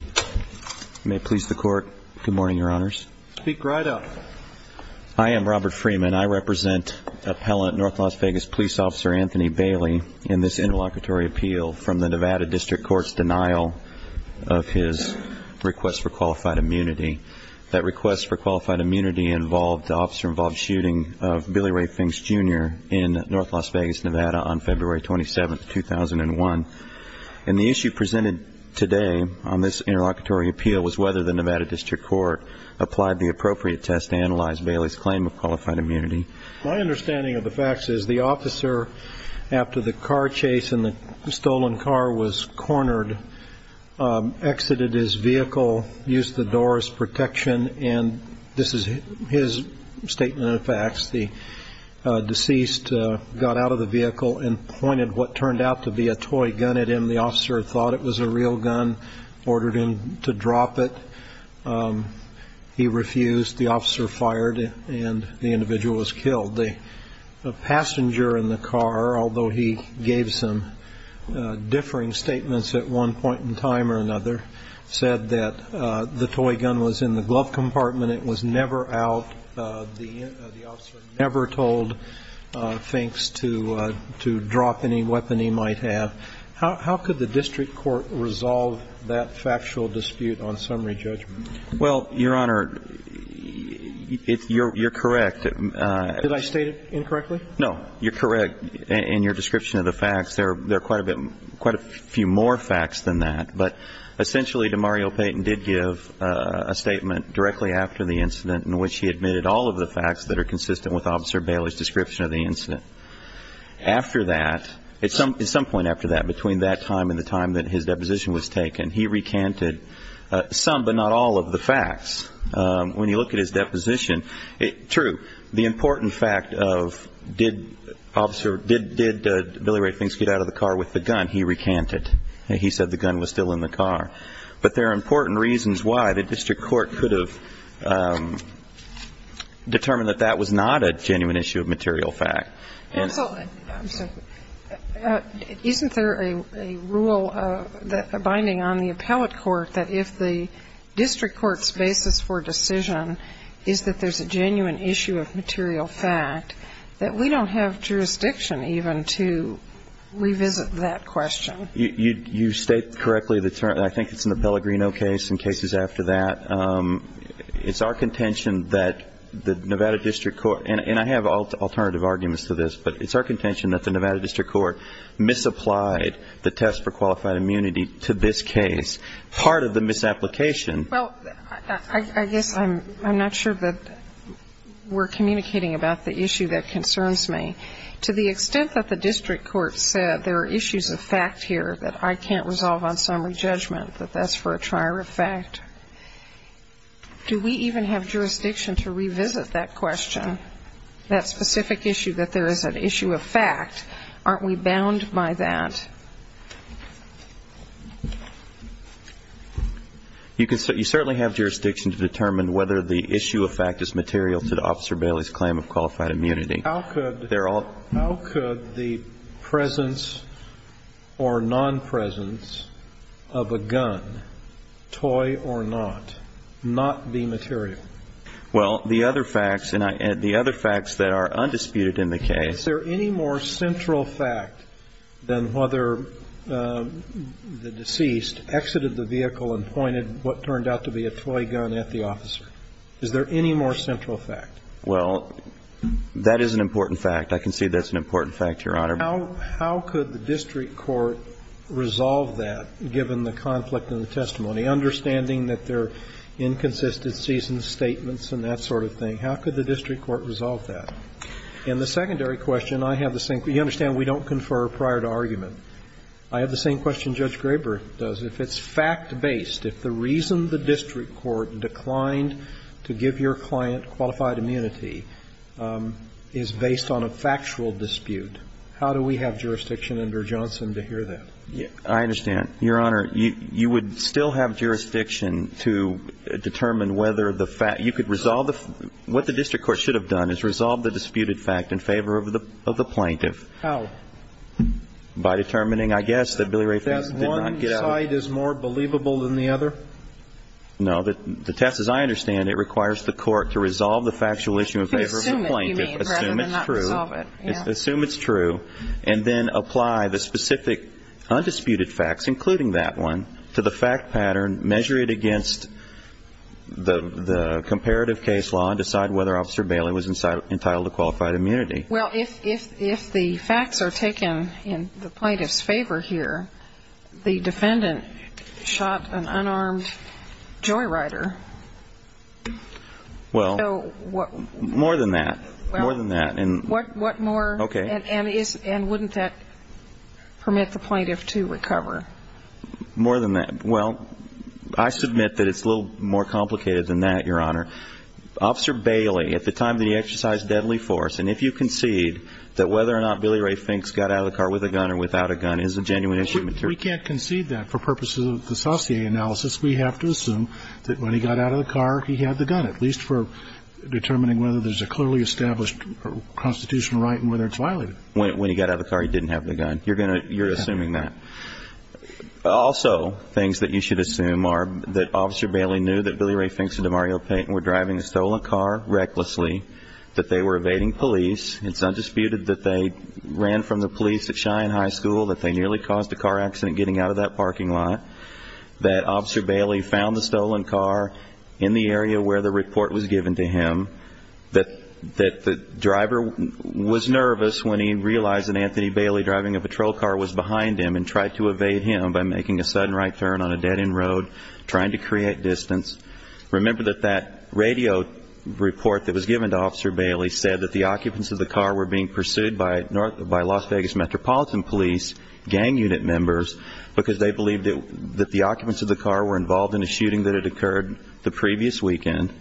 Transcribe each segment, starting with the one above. You may please the court. Good morning, Your Honors. Speak right up. I am Robert Freeman. I represent Appellant North Las Vegas Police Officer Anthony Bailey in this interlocutory appeal from the Nevada District Court's denial of his request for qualified immunity. That request for qualified immunity involved the officer-involved shooting of Billy Ray Finks Jr. in North Las Vegas, Nevada, on February 27, 2001. And the issue presented today on this interlocutory appeal was whether the Nevada District Court applied the appropriate test to analyze Bailey's claim of qualified immunity. My understanding of the facts is the officer, after the car chase and the stolen car was cornered, exited his vehicle, used the door as protection, and this is his statement of facts. The deceased got out of the vehicle and pointed what turned out to be a toy gun at him. The officer thought it was a real gun, ordered him to drop it. He refused. The officer fired, and the individual was killed. The passenger in the car, although he gave some differing statements at one point in time or another, said that the toy gun was in the glove compartment. It was never out. The officer never told Finks to drop any weapon he might have. How could the district court resolve that factual dispute on summary judgment? Well, Your Honor, you're correct. Did I state it incorrectly? No. You're correct in your description of the facts. There are quite a few more facts than that. But essentially, DeMario Payton did give a statement directly after the incident in which he admitted all of the facts that are consistent with Officer Bailey's description of the incident. After that, at some point after that, between that time and the time that his deposition was taken, he recanted some but not all of the facts. When you look at his deposition, true, the important fact of did Billy Ray Finks get out of the car with the gun, he recanted. He said the gun was still in the car. But there are important reasons why the district court could have determined that that was not a genuine issue of material fact. Counsel, isn't there a rule binding on the appellate court that if the district court's basis for decision is that there's a genuine issue of material fact, that we don't have jurisdiction even to revisit that question? You state correctly the term. I think it's in the Pellegrino case and cases after that. It's our contention that the Nevada district court, and I have alternative arguments to this, but it's our contention that the Nevada district court misapplied the test for qualified immunity to this case. Part of the misapplication. Well, I guess I'm not sure that we're communicating about the issue that concerns me. To the extent that the district court said there are issues of fact here that I can't resolve on summary judgment, that that's for a trier of fact, do we even have jurisdiction to revisit that question, that specific issue that there is an issue of fact? Aren't we bound by that? You certainly have jurisdiction to determine whether the issue of fact is material to Officer Bailey's claim of qualified immunity. How could the presence or non-presence of a gun, toy or not, not be material? Well, the other facts that are undisputed in the case. Is there any more central fact than whether the deceased exited the vehicle and pointed what turned out to be a toy gun at the officer? Is there any more central fact? Well, that is an important fact. I can see that's an important fact, Your Honor. How could the district court resolve that, given the conflict in the testimony, understanding that there are inconsistencies in the statements and that sort of thing? How could the district court resolve that? In the secondary question, I have the same question. You understand we don't confer prior to argument. I have the same question Judge Graber does. If it's fact-based, if the reason the district court declined to give your client qualified immunity is based on a factual dispute, how do we have jurisdiction under Johnson to hear that? I understand. Your Honor, you would still have jurisdiction to determine whether the fact you could resolve the what the district court should have done is resolve the disputed fact in favor of the plaintiff. How? By determining, I guess, that Billy Ray Fink did not get out. One side is more believable than the other? No. The test, as I understand it, requires the court to resolve the factual issue in favor of the plaintiff. Assume it, you mean, rather than not resolve it. Assume it's true. Yeah. Assume it's true, and then apply the specific undisputed facts, including that one, to the fact pattern, measure it against the comparative case law, and decide whether Officer Bailey was entitled to qualified immunity. Well, if the facts are taken in the plaintiff's favor here, the defendant shot an unarmed joyrider. Well, more than that. More than that. What more? Okay. And wouldn't that permit the plaintiff to recover? More than that. Well, I submit that it's a little more complicated than that, Your Honor. Officer Bailey, at the time that he exercised deadly force, and if you concede that whether or not Billy Ray Fink got out of the car with a gun or without a gun is a genuine issue. We can't concede that for purposes of the Saussure analysis. We have to assume that when he got out of the car, he had the gun, at least for determining whether there's a clearly established constitutional right and whether it's violated. When he got out of the car, he didn't have the gun. You're assuming that. Also, things that you should assume are that Officer Bailey knew that Billy Ray Fink and Demario Payton were driving a stolen car recklessly, that they were evading police. It's undisputed that they ran from the police at Cheyenne High School, that they nearly caused a car accident getting out of that parking lot, that Officer Bailey found the stolen car in the area where the report was given to him, that the driver was nervous when he realized that Anthony Bailey driving a patrol car was behind him and tried to evade him by making a sudden right turn on a dead-end road, trying to create distance. Remember that that radio report that was given to Officer Bailey said that the occupants of the car were being pursued by Las Vegas Metropolitan Police gang unit members because they believed that the occupants of the car were involved in a shooting that had occurred the previous weekend.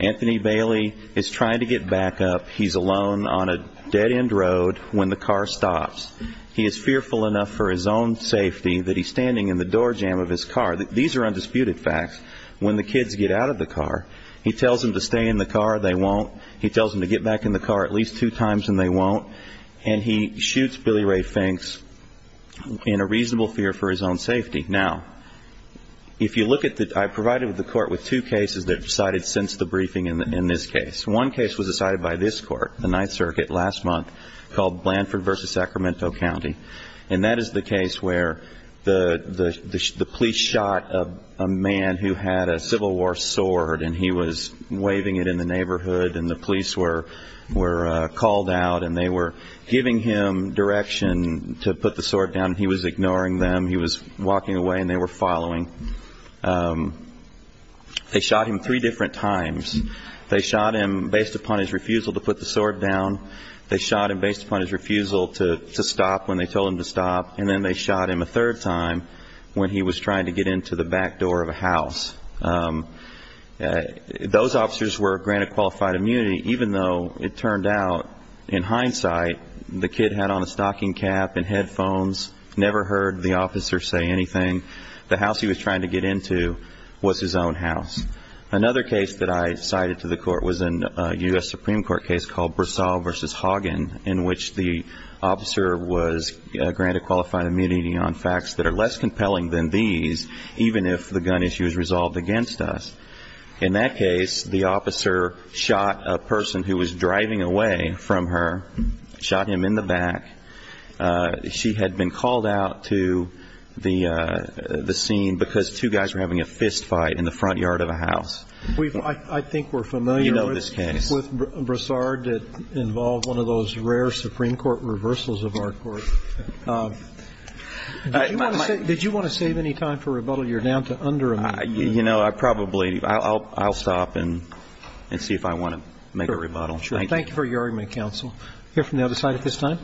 Anthony Bailey is trying to get back up. He's alone on a dead-end road when the car stops. He is fearful enough for his own safety that he's standing in the door jamb of his car. These are undisputed facts. When the kids get out of the car, he tells them to stay in the car. They won't. He tells them to get back in the car at least two times, and they won't. And he shoots Billy Ray Finks in a reasonable fear for his own safety. Now, if you look at the court, I provided the court with two cases that decided since the briefing in this case. One case was decided by this court, the Ninth Circuit, last month, called Blanford v. Sacramento County, and that is the case where the police shot a man who had a Civil War sword, and he was waving it in the neighborhood, and the police were called out, and they were giving him direction to put the sword down. He was ignoring them. He was walking away, and they were following. They shot him three different times. They shot him based upon his refusal to put the sword down. They shot him based upon his refusal to stop when they told him to stop, and then they shot him a third time when he was trying to get into the back door of a house. Those officers were granted qualified immunity, even though it turned out, in hindsight, the kid had on a stocking cap and headphones, never heard the officer say anything. The house he was trying to get into was his own house. Another case that I cited to the court was a U.S. Supreme Court case called Brasov v. Hagen, in which the officer was granted qualified immunity on facts that are less compelling than these, even if the gun issue is resolved against us. In that case, the officer shot a person who was driving away from her, shot him in the back. She had been called out to the scene because two guys were having a fist fight in the front yard of a house. I think we're familiar with Brasov that involved one of those rare Supreme Court reversals of our court. Did you want to save any time for rebuttal? You're down to under a minute. You know, I probably ‑‑ I'll stop and see if I want to make a rebuttal. Thank you for your argument, counsel. We'll hear from the other side at this time.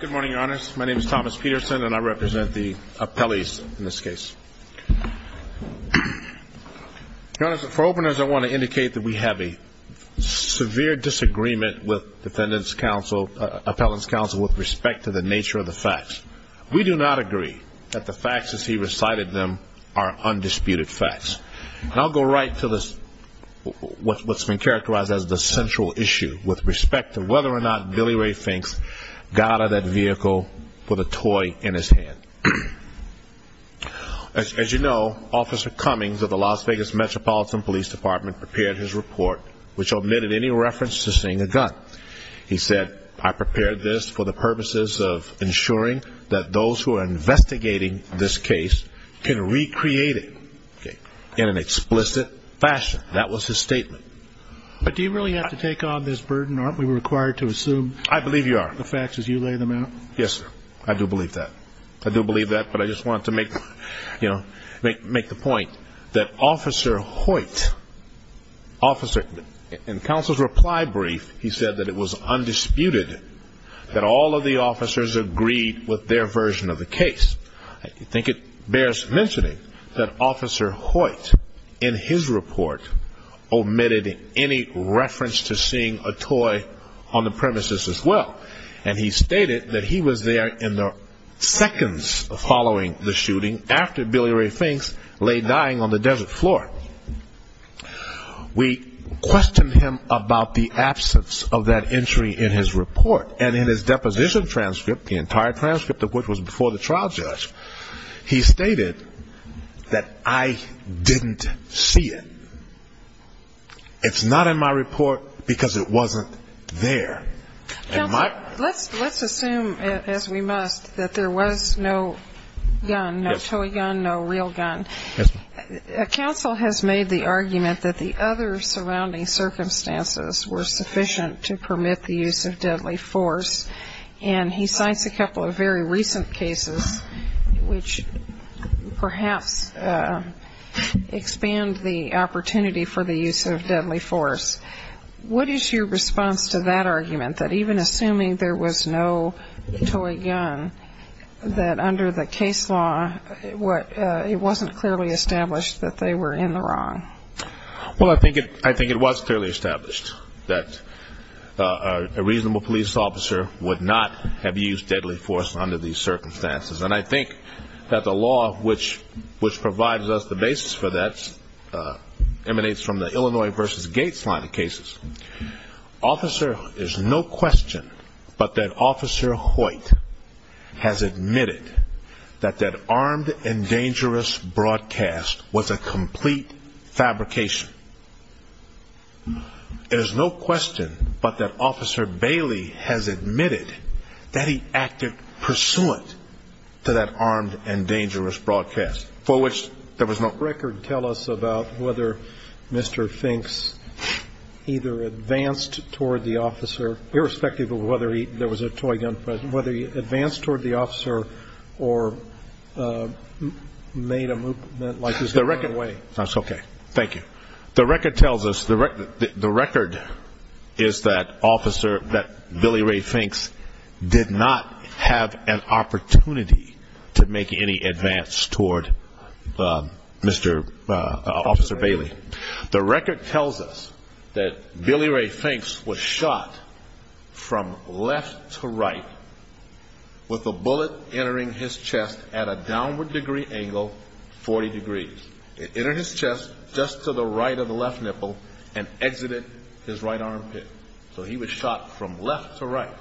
Good morning, Your Honors. My name is Thomas Peterson, and I represent the appellees in this case. Your Honors, for openness, I want to indicate that we have a severe disagreement with defendant's counsel, appellant's counsel, with respect to the nature of the facts. We do not agree that the facts as he recited them are undisputed facts. And I'll go right to what's been characterized as the central issue, with respect to whether or not Billy Ray Fink got out of that vehicle with a toy in his hand. As you know, Officer Cummings of the Las Vegas Metropolitan Police Department prepared his report, which omitted any reference to seeing a gun. He said, I prepared this for the purposes of ensuring that those who are investigating this case can recreate it. In an explicit fashion, that was his statement. But do you really have to take on this burden? Aren't we required to assume the facts as you lay them out? Yes, sir. I do believe that. I do believe that, but I just wanted to make the point that Officer Hoyt, in counsel's reply brief, he said that it was undisputed that all of the officers agreed with their version of the case. I think it bears mentioning that Officer Hoyt, in his report, omitted any reference to seeing a toy on the premises as well. And he stated that he was there in the seconds following the shooting, after Billy Ray Fink lay dying on the desert floor. We questioned him about the absence of that entry in his report. And in his deposition transcript, the entire transcript of which was before the trial judge, he stated that I didn't see it. It's not in my report because it wasn't there. Let's assume, as we must, that there was no gun, no toy gun, no real gun. Yes, ma'am. Bill has made the argument that the other surrounding circumstances were sufficient to permit the use of deadly force, and he cites a couple of very recent cases which perhaps expand the opportunity for the use of deadly force. What is your response to that argument, that even assuming there was no toy gun, that under the case law it wasn't clearly established that they were in the wrong? Well, I think it was clearly established that a reasonable police officer would not have used deadly force under these circumstances. And I think that the law which provides us the basis for that emanates from the Illinois v. Gates line of cases. Officer, there's no question but that Officer Hoyt has admitted that that armed and dangerous broadcast was a complete fabrication. There's no question but that Officer Bailey has admitted that he acted pursuant to that armed and dangerous broadcast, for which there was no record. Tell us about whether Mr. Finks either advanced toward the officer, irrespective of whether there was a toy gun, but whether he advanced toward the officer or made a movement like he was going away. That's okay. Thank you. The record tells us, the record is that Billy Ray Finks did not have an opportunity to make any advance toward Officer Bailey. The record tells us that Billy Ray Finks was shot from left to right with a bullet entering his chest at a downward degree angle, 40 degrees. It entered his chest just to the right of the left nipple and exited his right armpit. So he was shot from left to right.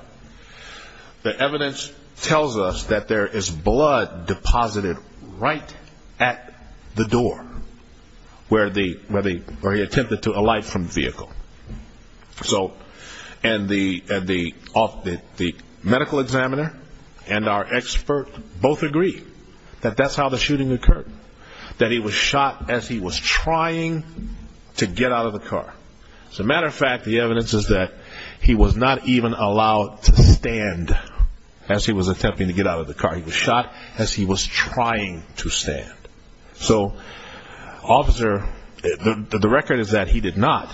The evidence tells us that there is blood deposited right at the door where he attempted to alight from the vehicle. And the medical examiner and our expert both agree that that's how the shooting occurred. That he was shot as he was trying to get out of the car. As a matter of fact, the evidence is that he was not even allowed to stand as he was attempting to get out of the car. He was shot as he was trying to stand. So the record is that he did not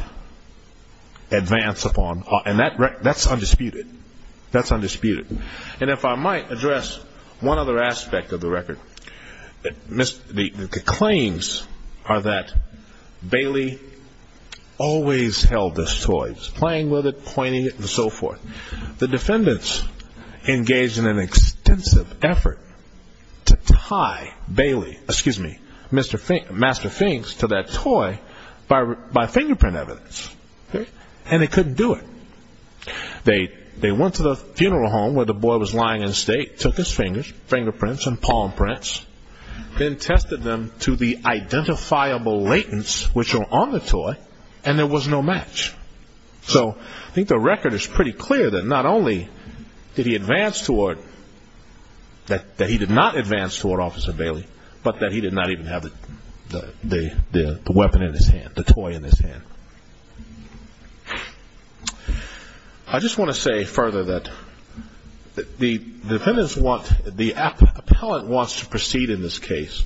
advance upon, and that's undisputed. That's undisputed. And if I might address one other aspect of the record, the claims are that Bailey always held this toy. He was playing with it, pointing it, and so forth. The defendants engaged in an extensive effort to tie Bailey, excuse me, Master Finks, to that toy by fingerprint evidence. And they couldn't do it. They went to the funeral home where the boy was lying in state, took his fingerprints and palm prints, then tested them to the identifiable latents which were on the toy, and there was no match. So I think the record is pretty clear that not only did he advance toward, that he did not advance toward Officer Bailey, but that he did not even have the weapon in his hand, the toy in his hand. I just want to say further that the defendants want, the appellant wants to proceed in this case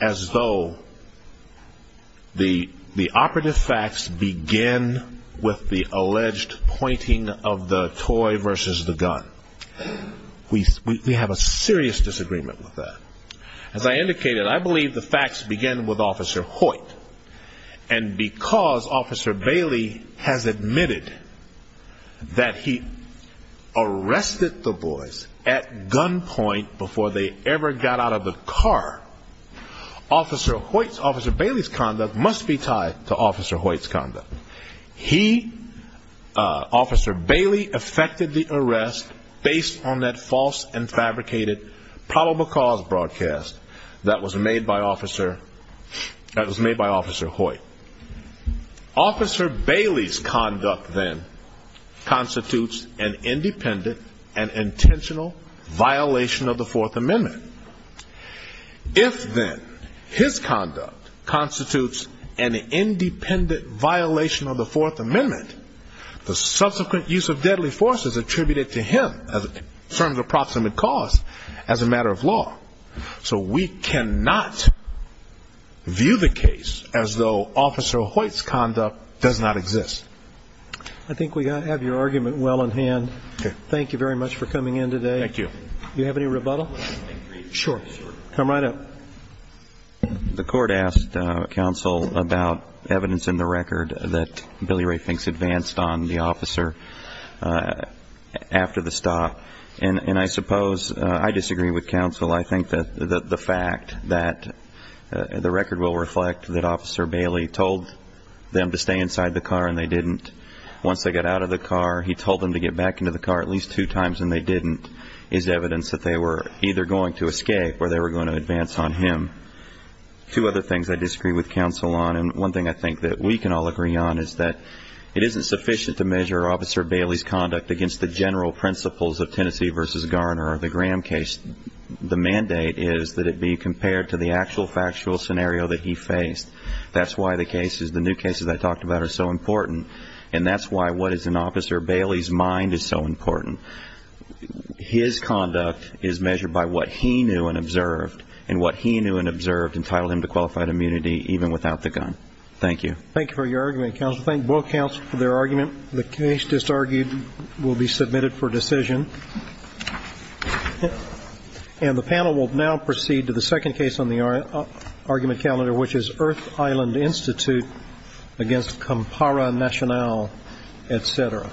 as though the operative facts begin with the alleged pointing of the toy versus the gun. We have a serious disagreement with that. As I indicated, I believe the facts begin with Officer Hoyt. And because Officer Bailey has admitted that he arrested the boys at gunpoint before they ever got out of the car, Officer Hoyt, Officer Bailey's conduct must be tied to Officer Hoyt's conduct. He, Officer Bailey, effected the arrest based on that false and fabricated probable cause broadcast that was made by Officer Hoyt. Officer Bailey's conduct, then, constitutes an independent and intentional violation of the Fourth Amendment. If, then, his conduct constitutes an independent violation of the Fourth Amendment, the subsequent use of deadly force is attributed to him in terms of approximate cause as a matter of law. So we cannot view the case as though Officer Hoyt's conduct does not exist. I think we have your argument well in hand. Thank you very much for coming in today. Thank you. Do you have any rebuttal? Sure. Come right up. The court asked counsel about evidence in the record that Billy Rafink's advanced on the officer after the stop. And I suppose I disagree with counsel. I think that the fact that the record will reflect that Officer Bailey told them to stay inside the car and they didn't, once they got out of the car, he told them to get back into the car at least two times and they didn't, is evidence that they were either going to escape or they were going to advance on him. Two other things I disagree with counsel on, and one thing I think that we can all agree on is that it isn't sufficient to measure Officer Bailey's conduct against the general principles of Tennessee v. Garner or the Graham case. The mandate is that it be compared to the actual factual scenario that he faced. That's why the new cases I talked about are so important, and that's why what is in Officer Bailey's mind is so important. His conduct is measured by what he knew and observed, and what he knew and observed entitled him to qualified immunity even without the gun. Thank you. Thank you for your argument, counsel. I'd also like to thank both counsel for their argument. The case just argued will be submitted for decision. And the panel will now proceed to the second case on the argument calendar, which is Earth Island Institute against Kampara National, et cetera.